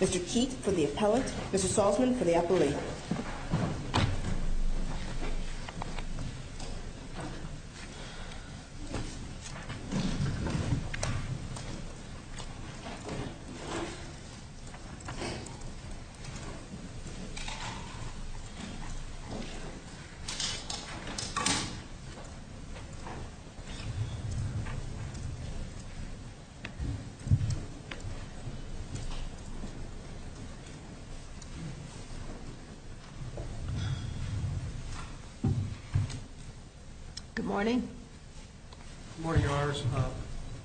Mr. Keith for the appellate, Mr. Salzman for the appellate. Good morning.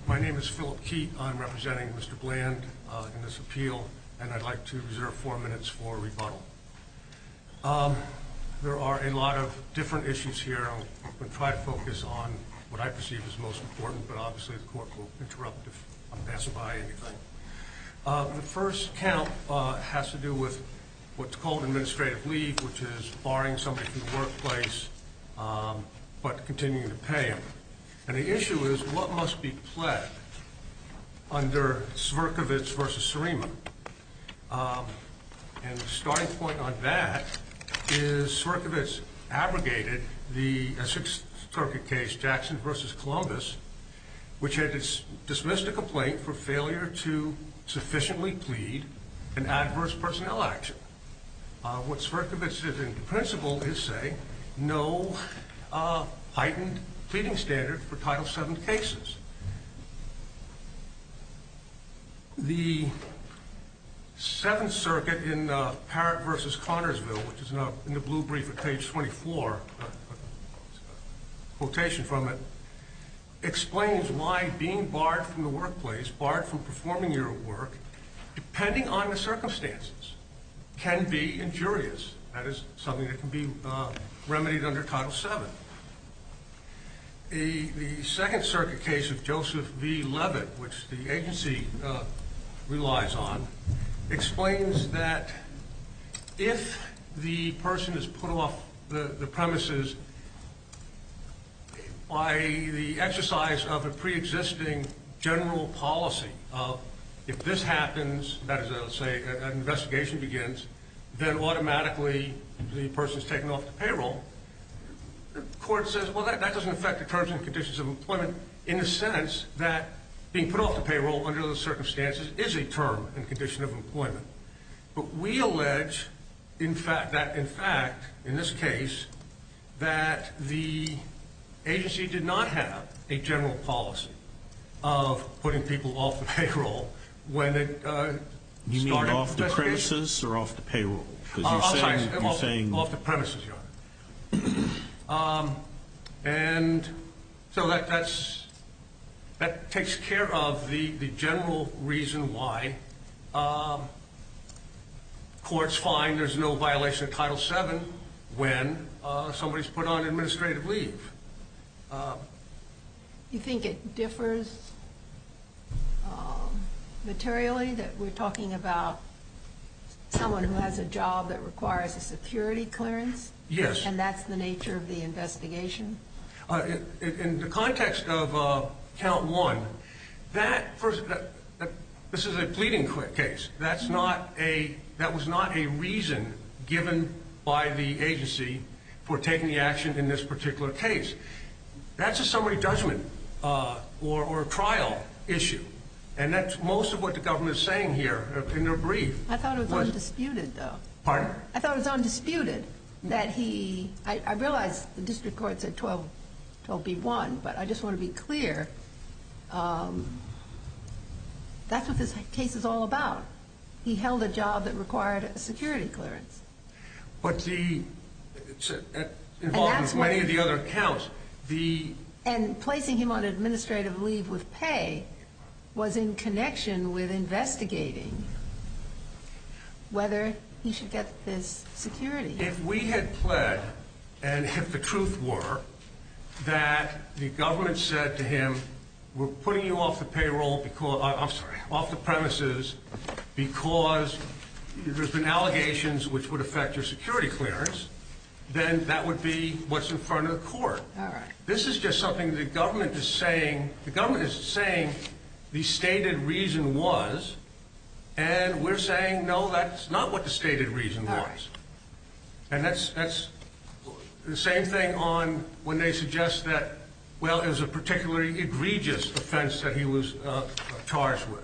My name is Phillip Keith. I'm representing Mr. Bland in this appeal, and I'd like to try to focus on what I perceive is most important, but obviously the court will interrupt if I pass by anything. The first count has to do with what's called administrative leave, which is barring somebody from the workplace, but continuing to pay him. And the issue is what must be pled under Sverkovits v. Serema. And the starting point on that is Sverkovits abrogated the application for the Sixth Circuit case Jackson v. Columbus, which had dismissed a complaint for failure to sufficiently plead an adverse personnel action. What Sverkovits did in principle is say no heightened pleading standard for Title VII cases. The Seventh Circuit in Parrott v. Connersville, which is in the blue brief at page 24, which has a quotation from it, explains why being barred from the workplace, barred from performing your work, depending on the circumstances, can be injurious. That is something that can be remedied under Title VII. The Second Circuit case of Joseph v. Levitt, which the agency relies on, explains that if the person is put off the premises by the exercise of a pre-existing general policy of if this happens, that is to say an investigation begins, then automatically the person is taken off the payroll, the court says, well, that doesn't affect the terms and conditions of employment in the sense that being put off the payroll under those circumstances is a pledge that in fact, in this case, that the agency did not have a general policy of putting people off the payroll when it started the investigation. You mean off the premises or off the payroll? Off the premises, Your Honor. And so that takes care of the general reason why courts find there's no violation of Title VII when somebody's put on administrative leave. You think it differs materially that we're talking about someone who has a job that requires a security clearance? Yes. And that's the nature of the investigation? In the context of Count 1, that first, this is a pleading case. That's not a, that was not a reason given by the agency for taking the action in this particular case. That's a summary judgment or a trial issue. And that's most of what the government is saying here in their brief. I thought it was undisputed, though. Pardon? I thought it was undisputed that he, I realize the district court said 12B1, but I just want to be clear, that's what this case is all about. He held a job that required a security clearance. But the, it's involved in many of the other accounts. And placing him on administrative leave with pay was in connection with investigating whether he should get this security. If we had pled, and if the truth were, that the government said to him, we're putting you off the payroll, I'm sorry, off the premises because there's been allegations which would affect your security clearance, then that would be what's in front of the court. This is just something the government is saying, the government is saying the stated reason was, and we're saying no, that's not what the stated reason was. And that's the same thing on when they suggest that, well, it was a particularly egregious offense that he was charged with.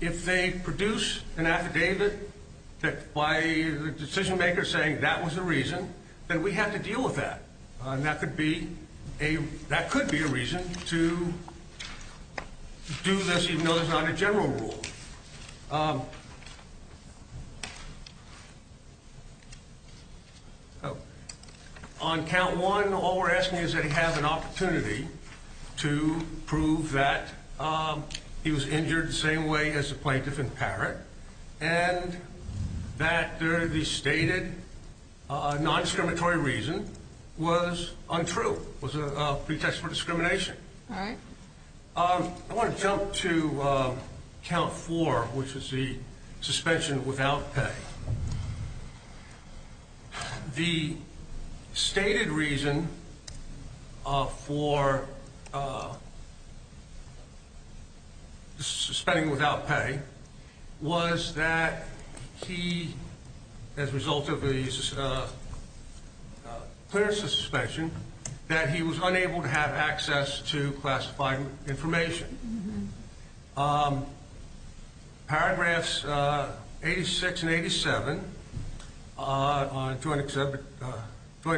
If they produce an affidavit that, by the decision maker saying that was the reason, then we have to deal with that. And that could be a, that could be a reason to do this, even though there's not a general rule. On count one, all we're asking is that he have an opportunity to prove that he was injured the same way as a plaintiff in Parrott, and that the stated non-discriminatory reason was untrue, was a pretext for discrimination. All right. I want to jump to count four, which is the suspension without pay. The stated reason for suspending without pay was that he, as a result of the clearance of suspension, that he did not have access to classified information. Paragraphs 86 and 87 on Joint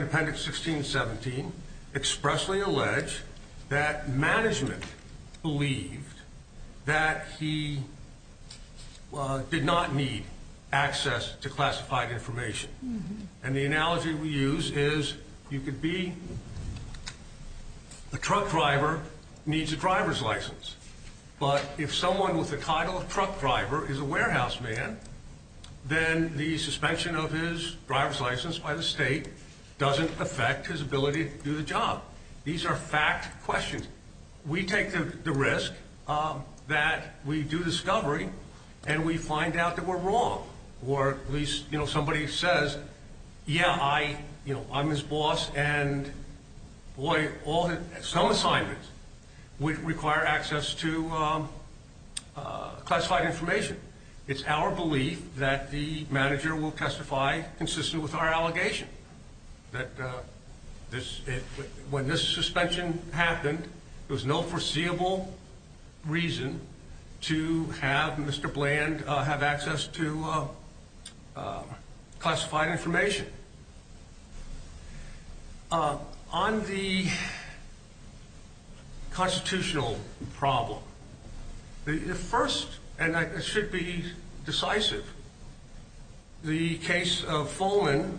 Appendix 16 and 17 expressly allege that management believed that he did not need access to classified information. And the analogy we use is you could be a truck driver, needs a driver's license, but if someone with the title of truck driver is a warehouse man, then the suspension of his driver's license by the state doesn't affect his ability to do the job. These are fact questions. We take the risk that we do discovery and we find out that we're wrong, or at least somebody says, yeah, I'm his boss, and boy, some assignments would require access to classified information. It's our belief that the manager will testify consistent with our allegation that when this suspension happened, there was no foreseeable reason to have Mr. Bland have access to classified information. On the constitutional problem, the first, and it should be decisive, the case of Fulman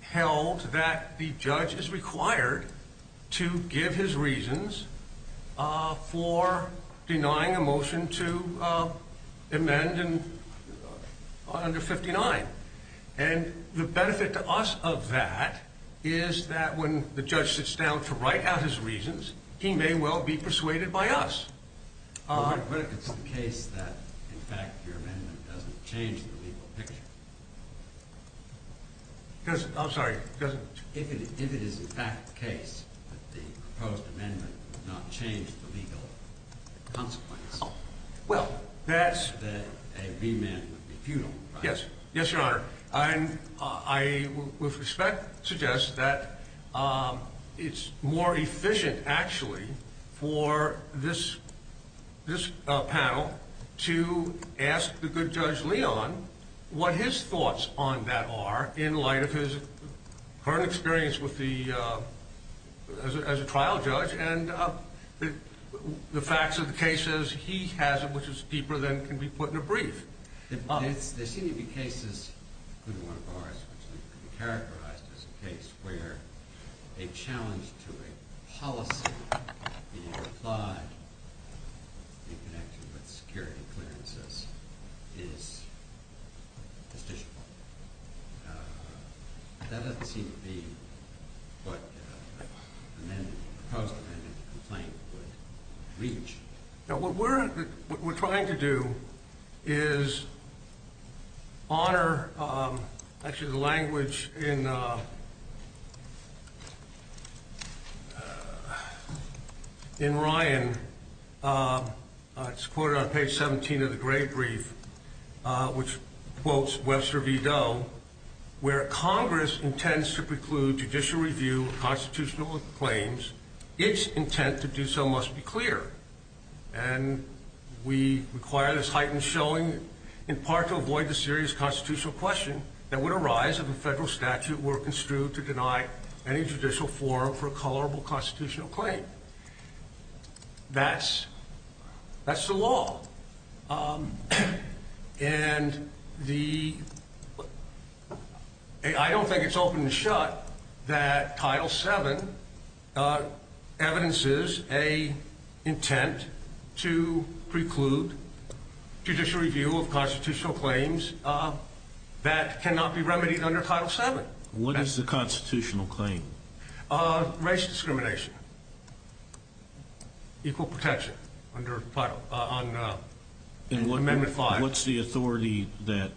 held that the judge is required to give his reasons for denying a motion to amend under 59. And the benefit to us of that is that when the judge sits down to write out his reasons, he may well be persuaded by us. But what if it's the case that, in fact, your amendment doesn't change the legal picture? I'm sorry, it doesn't? If it is, in fact, the case that the proposed amendment would not change the legal consequence, then a remand would be futile, right? Yes. Yes, Your Honor. I would suggest that it's more efficient, actually, for this panel to ask the good Judge Leon what his thoughts on that are in light of his current experience as a trial judge and the facts of the cases he has, which is deeper than can be put in a brief. There seem to be cases, including one of ours, which could be characterized as a case where a challenge to a policy being applied in connection with security clearances is justiciable. That doesn't seem to be what the proposed amendment complaint would reach. Now, what we're trying to do is honor, actually, the language in Ryan. It's quoted on page 17 of the great brief, which quotes Webster V. Doe, where Congress intends to preclude judicial review of constitutional claims. Its intent to do so must be clear. And we require this heightened showing in part to avoid the serious constitutional question that would arise if a federal statute were construed to deny any judicial forum for a colorable constitutional claim. That's the law. And I don't think it's open and shut that Title VII evidences a intent to preclude judicial review of constitutional claims that cannot be remedied under Title VII. What is the constitutional claim? Race discrimination. Equal protection under Title — on Amendment 5. And what's the authority that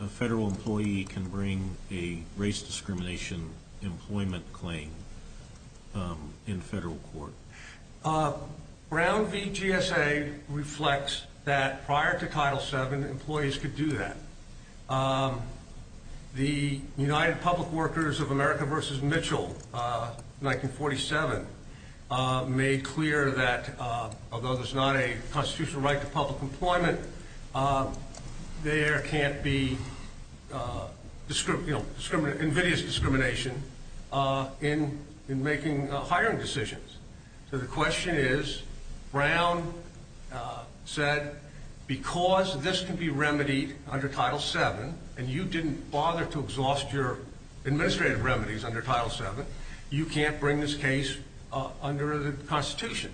a federal employee can bring a race discrimination employment claim in federal court? Brown v. GSA reflects that prior to Title VII, employees could do that. The United Public Workers of America v. Mitchell, 1947, made clear that although there's not a constitutional right to public employment, there can't be invidious discrimination in making hiring decisions. So the question is, Brown said, because this can be remedied under Title VII, and you didn't bother to exhaust your administrative remedies under Title VII, you can't bring this case under the Constitution.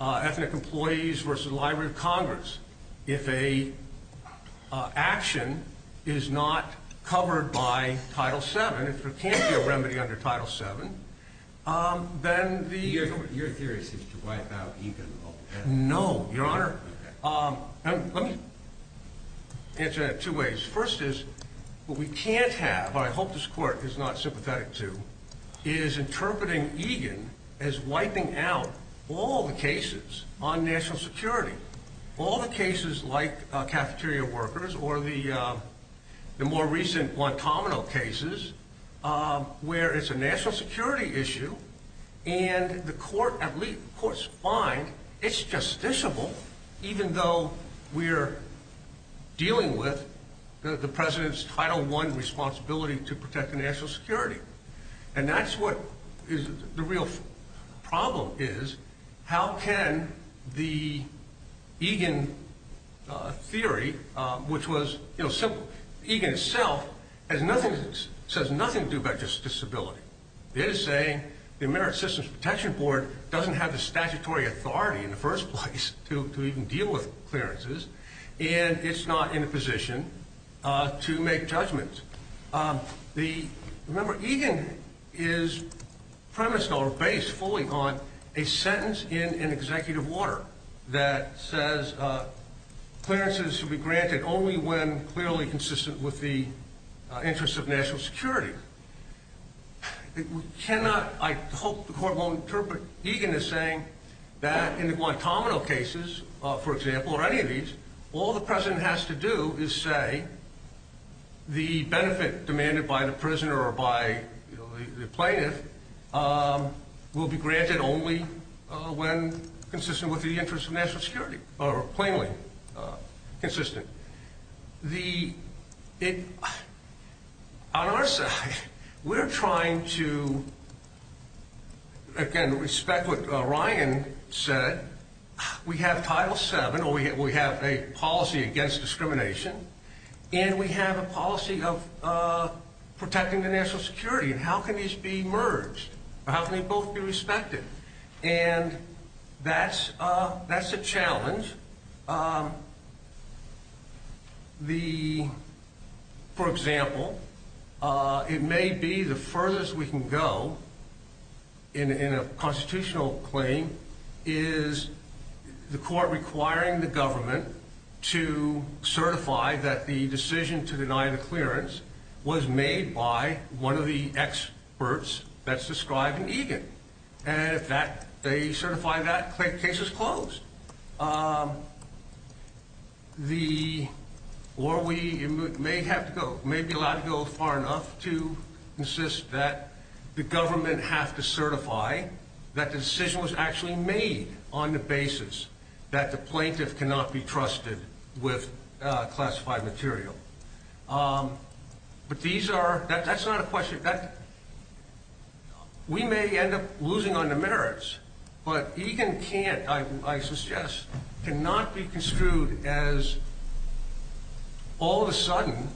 Ethnic Employees v. Library of Congress. If a action is not covered by Title VII, if there can't be a remedy under Title VII, then the — Your theory seems to wipe out Egan, though. No, Your Honor. Let me answer that two ways. First is, what we can't have, what I hope this Court is not sympathetic to, is interpreting Egan as wiping out all the All the cases like Cafeteria Workers or the more recent Guantanamo cases, where it's a national security issue, and the Court, at least the Court's fine, it's justiciable, even though we're dealing with the President's Title I responsibility to protect the national security. And that's what the real problem is. How can the Egan theory, which was simple, Egan itself says nothing to do about justiciability. It is saying the American Systems Protection Board doesn't have the statutory authority in the first place to even deal with clearances, and it's not in a position to make judgments. Remember, Egan is premised on, or based fully on, a sentence in an executive order that says clearances should be granted only when clearly consistent with the interests of national security. We cannot, I hope the Court won't interpret Egan as saying that in the Guantanamo cases, for example, or any of these, all the President has to do is say the benefit demanded by the prisoner or by the plaintiff will be granted only when consistent with the interests of national security, or plainly consistent. On our side, we're trying to, again, respect what Ryan said. We have Title VII, or we have a policy against discrimination, and we have a policy of protecting the national security. And how can these be merged? How can they both be respected? And that's a challenge. For example, it may be the furthest we can go in a constitutional claim is the Court requiring the government to certify that the case is closed. Or we may have to go, may be allowed to go far enough to insist that the government have to certify that the decision was actually made on the basis that the plaintiff cannot be trusted with classified material. But these are, that's not a question, we may end up losing on the merits, but Egan can't, I suggest, cannot be construed as all of a sudden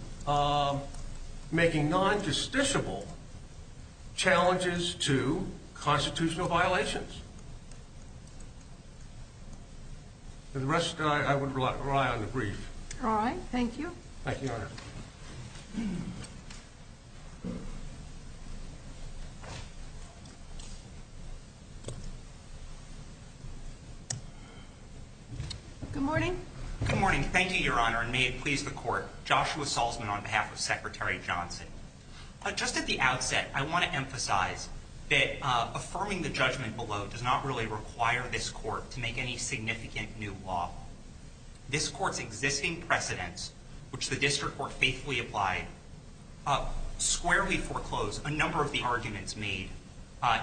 making non-justiciable challenges to constitutional violations. The rest, I would rely on the brief. All right. Thank you. Thank you, Your Honor. Good morning. Good morning. Thank you, Your Honor, and may it please the Court. Joshua Salzman on behalf of Secretary Johnson. Just at the outset, I want to emphasize that affirming the judgment below does not really require this Court to make any significant new law. This Court's existing precedents, which the District Court faithfully applied, squarely foreclosed a number of the arguments made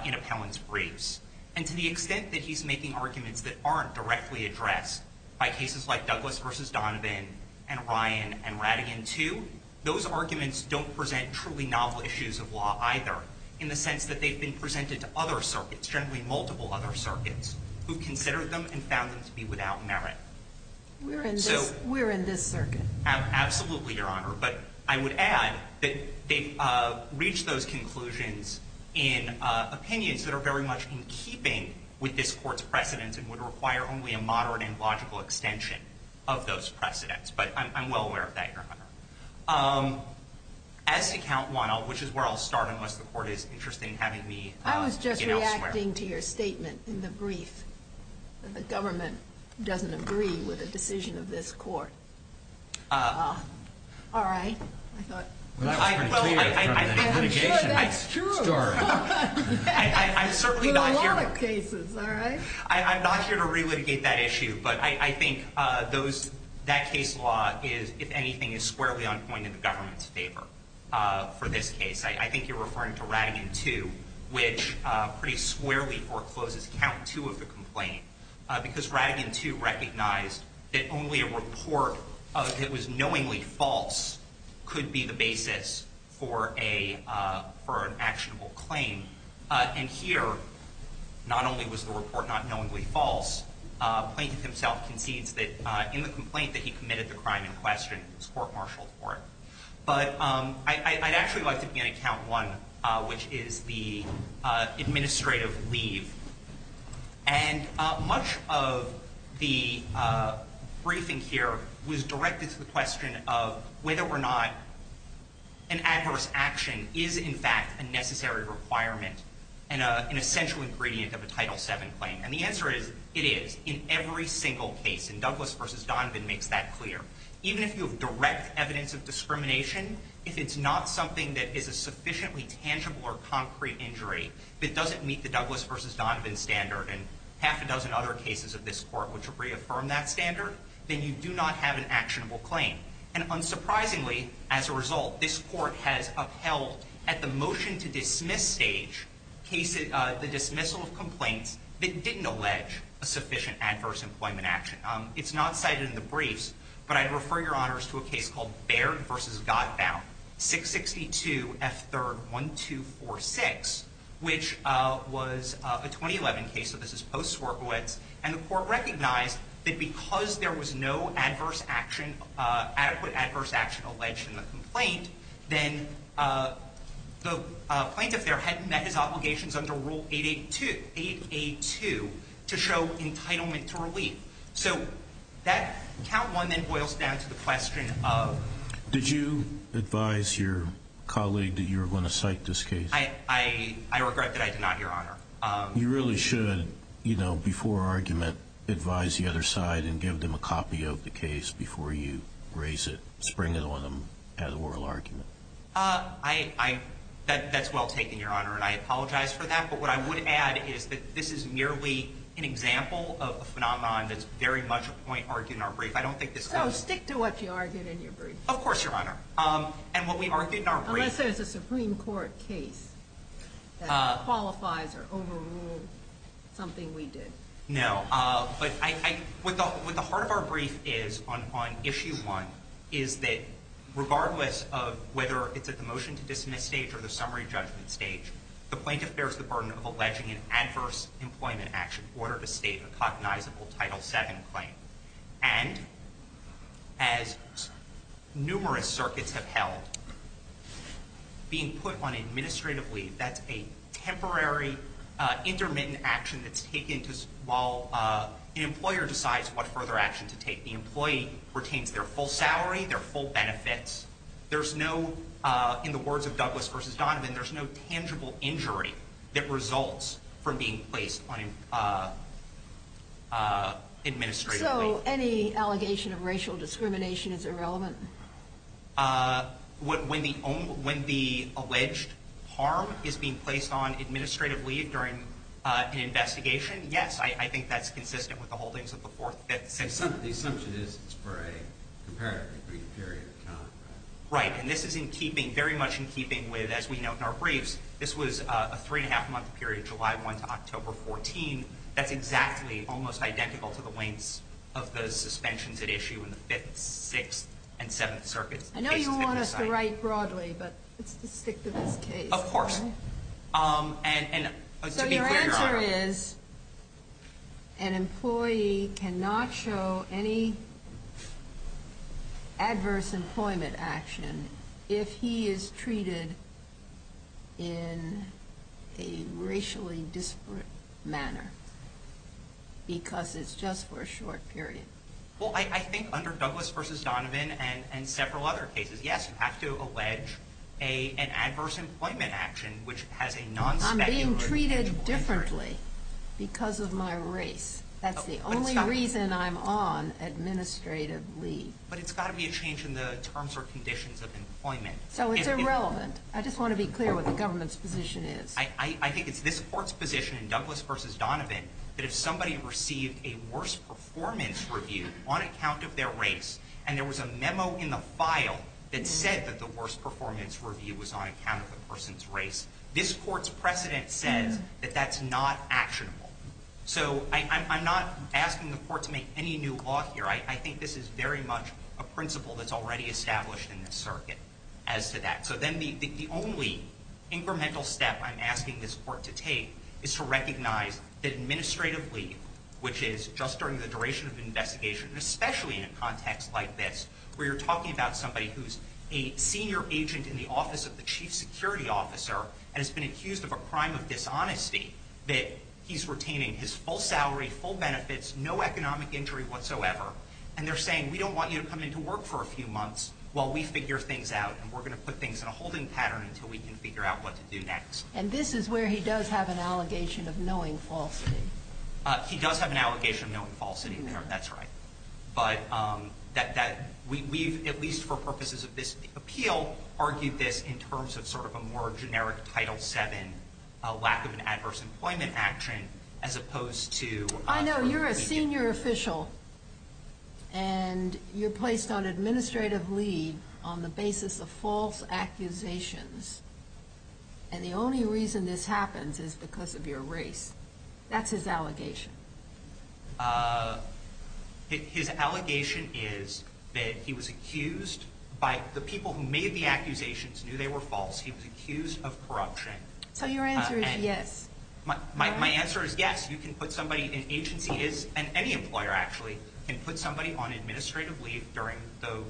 in appellant's briefs. And to the extent that he's making arguments that aren't directly addressed by cases like Douglas v. Donovan and Ryan and Ratigan II, those arguments don't present truly novel issues of law either, in the sense that they've been presented to other circuits, generally multiple other We're in this circuit. Absolutely, Your Honor. But I would add that they've reached those conclusions in opinions that are very much in keeping with this Court's precedents and would require only a moderate and logical extension of those precedents. But I'm well aware of that, Your Honor. As to count one, which is where I'll start, unless the Court is interested in having me begin elsewhere. I was reacting to your statement in the brief that the government doesn't agree with a decision of this Court. All right. I'm sure that's true for a lot of cases, all right? I'm not here to relitigate that issue. But I think that case law is, if anything, is squarely on point in the government's favor for this case. I think you're referring to Ratigan II, which pretty squarely forecloses count two of the complaint. Because Ratigan II recognized that only a report that was knowingly false could be the basis for an actionable claim. And here, not only was the report not knowingly false, the plaintiff himself concedes that in the complaint that he committed the crime in question, his court marshaled for it. But I'd actually like to begin at count one, which is the administrative leave. And much of the briefing here was directed to the question of whether or not an adverse action is, in fact, a necessary requirement, an essential ingredient of a Title VII claim. And the answer is, it is, in every single case. And Douglas v. Donovan makes that clear. Even if you have direct evidence of discrimination, if it's not something that is a sufficiently tangible or concrete injury that doesn't meet the Douglas v. Donovan standard, and half a dozen other cases of this court which have reaffirmed that standard, then you do not have an actionable claim. And unsurprisingly, as a result, this court has upheld, at the motion to dismiss stage, the dismissal of complaints that didn't allege a sufficient adverse employment action. It's not cited in the briefs. But I'd refer your honors to a case called Baird v. Godbaum, 662 F. 3rd 1246, which was a 2011 case. So this is post-Swerkowitz. And the court recognized that because there was no adverse action, adequate adverse action, alleged in the complaint, then the plaintiff there had met his obligations under Rule 882 to show entitlement to relief. So that count one then boils down to the question of Did you advise your colleague that you were going to cite this case? I regret that I did not, your honor. You really should, before argument, advise the other side and give them a copy of the case before you raise it, spring it on them at oral argument. That's well taken, your honor. And I apologize for that. But what I would add is that this is merely an example of a phenomenon that's very much a point argued in our brief. So stick to what you argued in your brief. Of course, your honor. And what we argued in our brief Unless there's a Supreme Court case that qualifies or overruled something we did. No. But what the heart of our brief is on Issue 1 is that regardless of whether it's at the motion to dismiss stage or the summary judgment stage, the plaintiff bears the burden of alleging an adverse employment action in order to state a cognizable Title VII claim. And as numerous circuits have held, being put on administrative leave, that's a temporary intermittent action that's taken while an employer decides what further action to take. The employee retains their full salary, their full benefits. There's no, in the words of Douglas v. Donovan, there's no tangible injury that results from being placed on administrative leave. So any allegation of racial discrimination is irrelevant? When the alleged harm is being placed on administrative leave during an investigation, yes, I think that's consistent with the holdings of the Fourth. The assumption is it's for a comparatively brief period of time. Right. And this is in keeping, very much in keeping with, as we note in our briefs, this was a three and a half month period, July 1 to October 14. That's exactly, almost identical to the lengths of the suspensions at issue in the Fifth, Sixth, and Seventh circuits. I know you want us to write broadly, but let's just stick to this case. Of course. So your answer is an employee cannot show any adverse employment action if he is treated in a racially disparate manner because it's just for a short period? Well, I think under Douglas v. Donovan and several other cases, yes, you have to allege an adverse employment action which has a non-speculative impact. I'm being treated differently because of my race. That's the only reason I'm on administrative leave. But it's got to be a change in the terms or conditions of employment. So it's irrelevant. I just want to be clear what the government's position is. I think it's this Court's position in Douglas v. Donovan that if somebody received a worse performance review on account of their race, and there was a memo in the file that said that the worst performance review was on account of the person's race, this Court's precedent says that that's not actionable. So I'm not asking the Court to make any new law here. I think this is very much a principle that's already established in this circuit as to that. So then the only incremental step I'm asking this Court to take is to recognize that administrative leave, which is just during the duration of an investigation, especially in a context like this, where you're talking about somebody who's a senior agent in the office of the chief security officer and has been accused of a crime of dishonesty, that he's retaining his full salary, full benefits, no economic injury whatsoever, and they're saying we don't want you to come into work for a few months while we figure things out and we're going to put things in a holding pattern until we can figure out what to do next. And this is where he does have an allegation of knowing falsity. He does have an allegation of knowing falsity there, that's right. But we've, at least for purposes of this appeal, argued this in terms of sort of a more generic Title VII, a lack of an adverse employment action, as opposed to… I know you're a senior official, and you're placed on administrative leave on the basis of false accusations, and the only reason this happens is because of your race. That's his allegation. His allegation is that he was accused by the people who made the accusations knew they were false. He was accused of corruption. So your answer is yes. My answer is yes. You can put somebody in agency, and any employer actually, can put somebody on administrative leave during the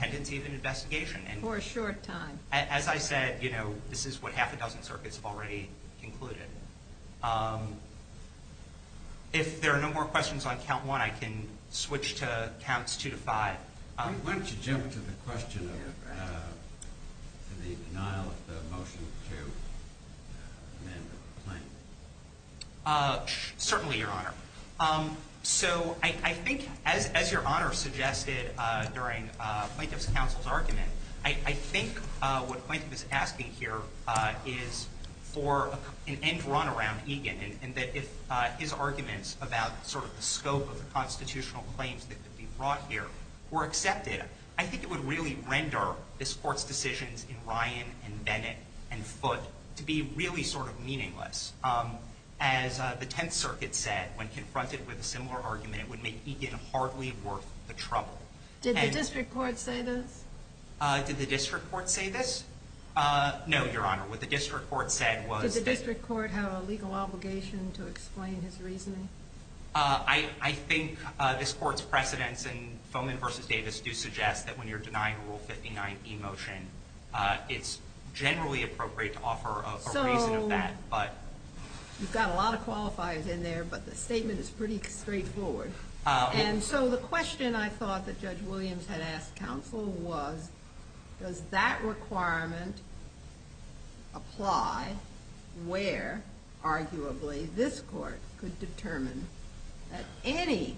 pendency of an investigation. For a short time. As I said, you know, this is what half a dozen circuits have already concluded. If there are no more questions on Count 1, I can switch to Counts 2 to 5. Why don't you jump to the question of the denial of the motion to amend the claim? Certainly, Your Honor. So I think, as Your Honor suggested during Plaintiff's counsel's argument, I think what Plaintiff is asking here is for an end run around Egan, and that if his arguments about sort of the scope of the constitutional claims that could be brought here were accepted, I think it would really render this Court's decisions in Ryan and Bennett and Foote to be really sort of meaningless. As the Tenth Circuit said, when confronted with a similar argument, it would make Egan hardly worth the trouble. Did the district court say this? Did the district court say this? No, Your Honor. What the district court said was that- Did the district court have a legal obligation to explain his reasoning? I think this Court's precedents in Fomin v. Davis do suggest that when you're denying Rule 59E motion, it's generally appropriate to offer a reason of that, but- So you've got a lot of qualifiers in there, but the statement is pretty straightforward. And so the question I thought that Judge Williams had asked counsel was, does that requirement apply where, arguably, this Court could determine that any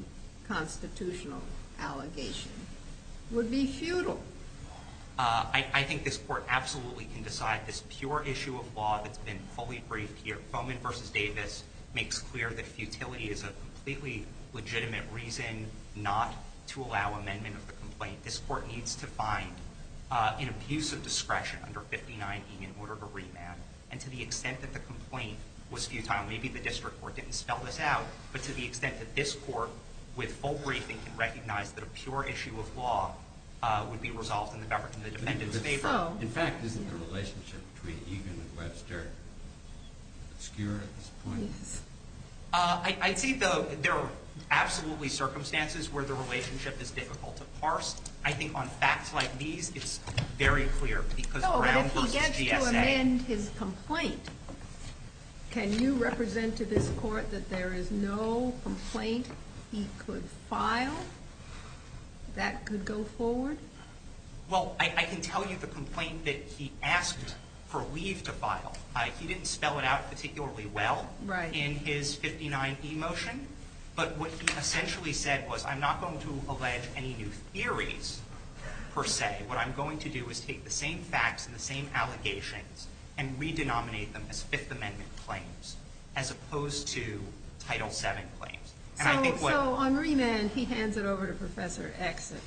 constitutional allegation would be futile? I think this Court absolutely can decide this pure issue of law that's been fully briefed here. I think Fomin v. Davis makes clear that futility is a completely legitimate reason not to allow amendment of the complaint. This Court needs to find an abuse of discretion under 59E in order to remand. And to the extent that the complaint was futile, maybe the district court didn't spell this out, but to the extent that this Court, with full briefing, can recognize that a pure issue of law would be resolved in the defendant's favor. In fact, isn't the relationship between Egan and Webster obscure at this point? I'd say there are absolutely circumstances where the relationship is difficult to parse. I think on facts like these, it's very clear because Brown v. GSA- Well, if he gets to amend his complaint, can you represent to this Court that there is no complaint he could file that could go forward? Well, I can tell you the complaint that he asked for leave to file. He didn't spell it out particularly well in his 59E motion. But what he essentially said was, I'm not going to allege any new theories, per se. What I'm going to do is take the same facts and the same allegations and re-denominate them as Fifth Amendment claims, as opposed to Title VII claims. And I think what- So on remand, he hands it over to Professor X at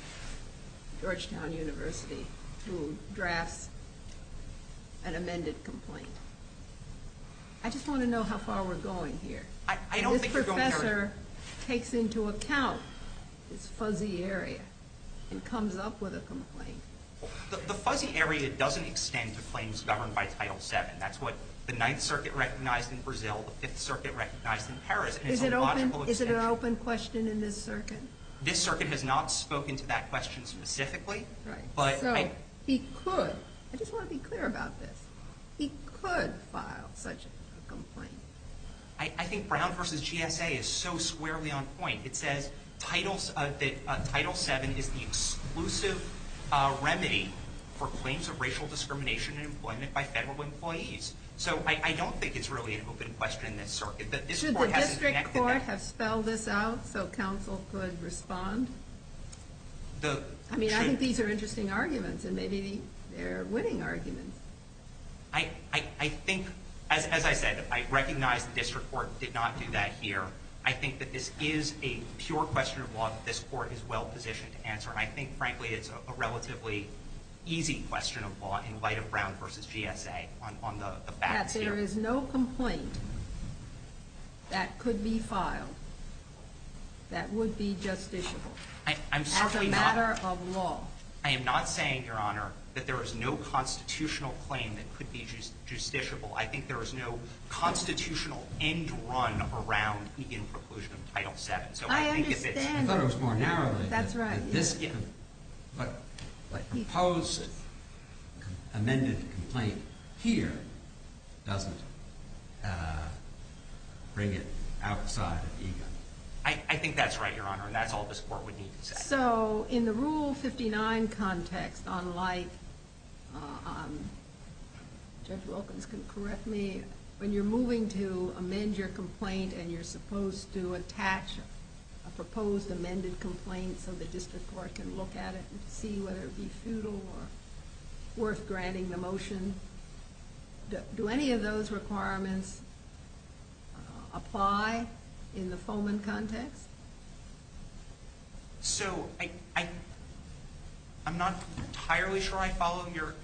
Georgetown University, who drafts an amended complaint. I just want to know how far we're going here. I don't think we're going very- This professor takes into account this fuzzy area and comes up with a complaint. The fuzzy area doesn't extend to claims governed by Title VII. That's what the Ninth Circuit recognized in Brazil, the Fifth Circuit recognized in Paris. And it's an illogical extension. Is it an open question in this circuit? This circuit has not spoken to that question specifically. Right. So he could- I just want to be clear about this. He could file such a complaint. I think Brown v. GSA is so squarely on point. It says that Title VII is the exclusive remedy for claims of racial discrimination in employment by federal employees. So I don't think it's really an open question in this circuit. Should the district court have spelled this out so counsel could respond? I mean, I think these are interesting arguments, and maybe they're winning arguments. I think, as I said, I recognize the district court did not do that here. I think that this is a pure question of law that this court is well positioned to answer. And I think, frankly, it's a relatively easy question of law in light of Brown v. GSA on the facts here. I think that there is no complaint that could be filed that would be justiciable. I'm certainly not- As a matter of law. I am not saying, Your Honor, that there is no constitutional claim that could be justiciable. I think there is no constitutional end run around the end preclusion of Title VII. So I think if it's- I understand. I thought it was more narrowly. That's right. But a proposed amended complaint here doesn't bring it outside of EGLE. I think that's right, Your Honor, and that's all this court would need to say. So in the Rule 59 context, unlike- Judge Wilkins can correct me. When you're moving to amend your complaint and you're supposed to attach a proposed amended complaint so the district court can look at it and see whether it would be futile or worth granting the motion, do any of those requirements apply in the Foman context? So I'm not entirely sure I follow Your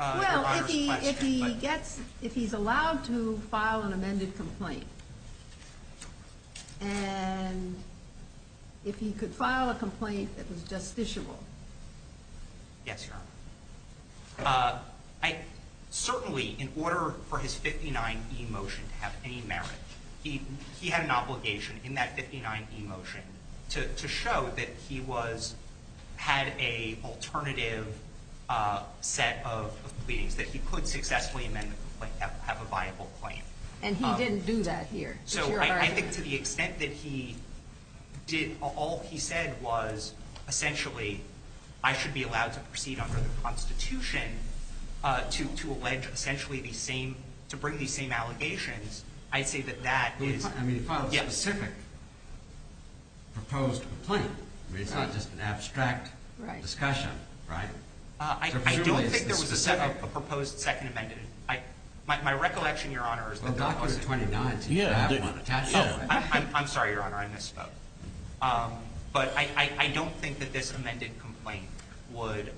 Honor's question. Well, if he gets- if he's allowed to file an amended complaint, and if he could file a complaint that was justiciable. Yes, Your Honor. Certainly, in order for his 59e motion to have any merit, he had an obligation in that 59e motion to show that he was- had a alternative set of pleadings, that he could successfully amend the complaint, have a viable claim. And he didn't do that here. So I think to the extent that he did- all he said was essentially, I should be allowed to proceed under the Constitution to allege essentially the same- I see that that is- I mean, he filed a specific proposed complaint. I mean, it's not just an abstract discussion, right? I don't think there was a proposed second amended. My recollection, Your Honor, is that there wasn't. Well, Doctrine 29 seems to have one attached to it. I'm sorry, Your Honor, I misspoke. But I don't think that this amended complaint would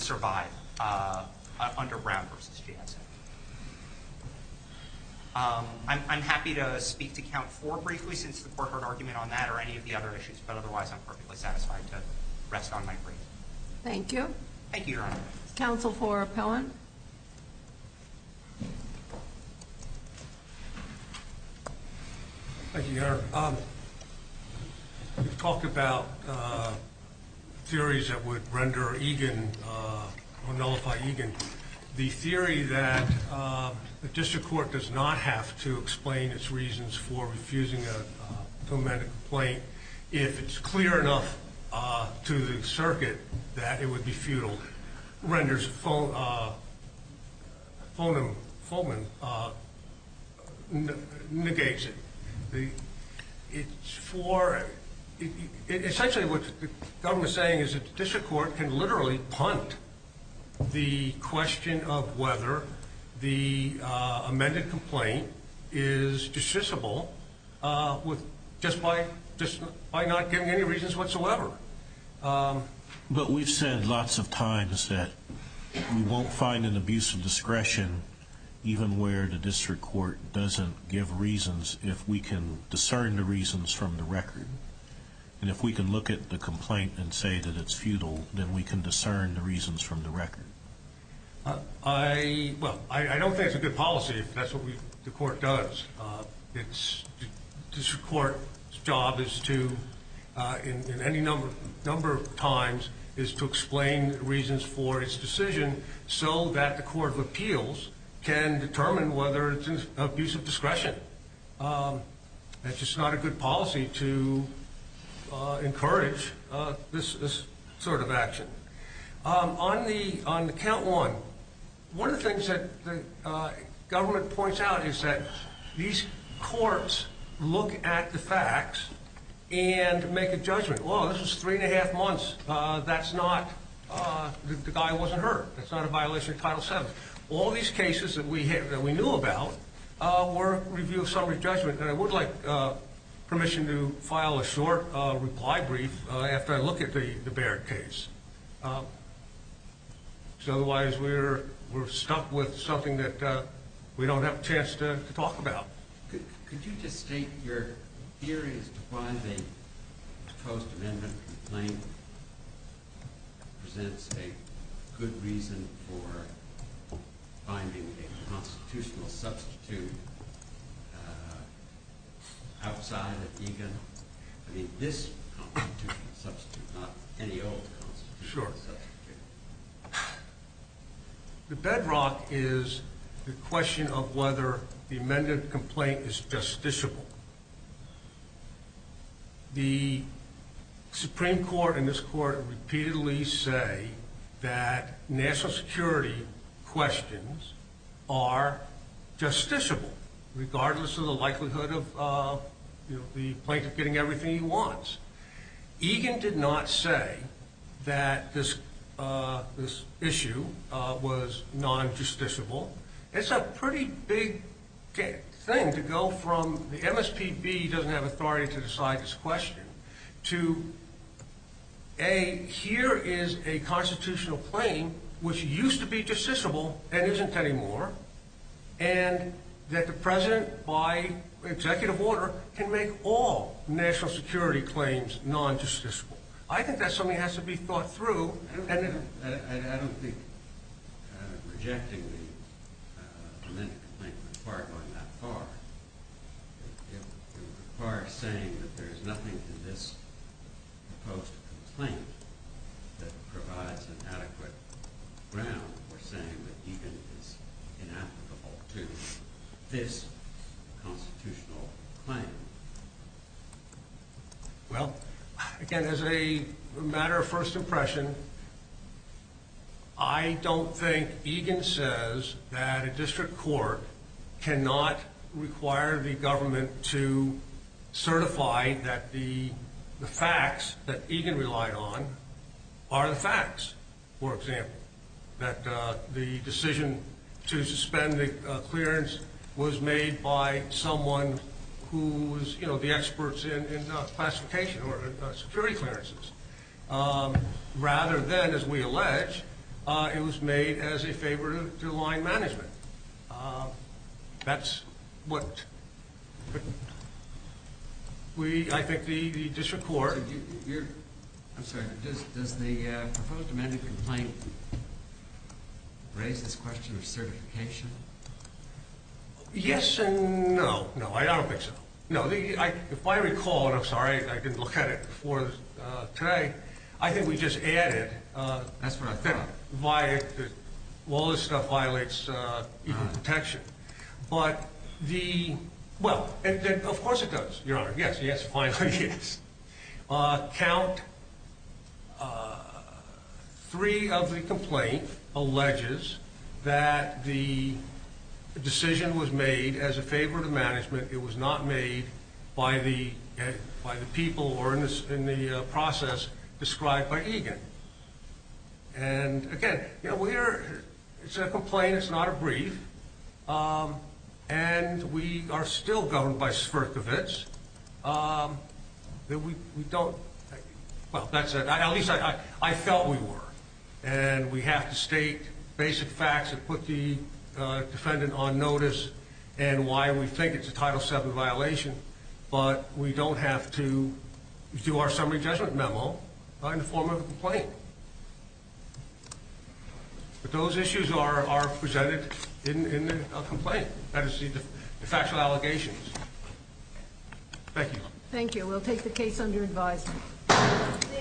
survive under Brown v. GSA. I'm happy to speak to Count 4 briefly since the court heard argument on that or any of the other issues, but otherwise I'm perfectly satisfied to rest on my feet. Thank you. Thank you, Your Honor. Counsel for Appellant. Thank you, Your Honor. We've talked about theories that would render Egan- nullify Egan. The theory that the district court does not have to explain its reasons for refusing a complaint if it's clear enough to the circuit that it would be futile renders Fulman- negates it. It's for- essentially what the government is saying is that the district court can literally punt the question of whether the amended complaint is dismissible just by not giving any reasons whatsoever. But we've said lots of times that we won't find an abuse of discretion, even where the district court doesn't give reasons, if we can discern the reasons from the record. And if we can look at the complaint and say that it's futile, then we can discern the reasons from the record. I don't think it's a good policy if that's what the court does. The district court's job is to- in any number of times- is to explain reasons for its decision so that the court of appeals can determine whether it's an abuse of discretion. It's just not a good policy to encourage this sort of action. On the count one, one of the things that the government points out is that these courts look at the facts and make a judgment. Oh, this was three and a half months. That's not- the guy wasn't hurt. That's not a violation of Title VII. All these cases that we knew about were a review of summary judgment. I would like permission to file a short reply brief after I look at the Baird case. Because otherwise we're stuck with something that we don't have a chance to talk about. Could you just state your theory as to why the proposed amendment complaint presents a good reason for finding a constitutional substitute outside of EGAN? I mean, this constitutional substitute, not any old constitutional substitute. Sure. The bedrock is the question of whether the amended complaint is justiciable. The Supreme Court and this court repeatedly say that national security questions are justiciable, regardless of the likelihood of the plaintiff getting everything he wants. EGAN did not say that this issue was non-justiciable. It's a pretty big thing to go from the MSPB doesn't have authority to decide this question to A, here is a constitutional claim which used to be justiciable and isn't anymore, and that the president, by executive order, can make all national security claims non-justiciable. I think that something has to be thought through. I don't think rejecting the amendment complaint would require going that far. It would require saying that there is nothing in this proposed complaint that provides an adequate ground for saying that EGAN is inapplicable to this constitutional claim. Well, again, as a matter of first impression, I don't think EGAN says that a district court cannot require the government to certify that the facts that EGAN relied on are the facts. For example, that the decision to suspend the clearance was made by someone who was the experts in classification or security clearances, rather than, as we allege, it was made as a favor to line management. That's what I think the district court... I'm sorry, does the proposed amendment complaint raise this question of certification? Yes and no. No, I don't think so. If I recall, and I'm sorry I didn't look at it before today, I think we just added... That's what I thought. All this stuff violates EGAN protection. But the... Well, of course it does, Your Honor. Yes, yes, finally, yes. Count 3 of the complaint alleges that the decision was made as a favor to management. It was not made by the people or in the process described by EGAN. And, again, it's a complaint, it's not a brief, and we are still governed by Svirkovich. We don't... Well, that said, at least I felt we were. And we have to state basic facts that put the defendant on notice and why we think it's a Title VII violation. But we don't have to do our summary judgment memo in the form of a complaint. But those issues are presented in a complaint. That is the factual allegations. Thank you. Thank you. We'll take the case under advice.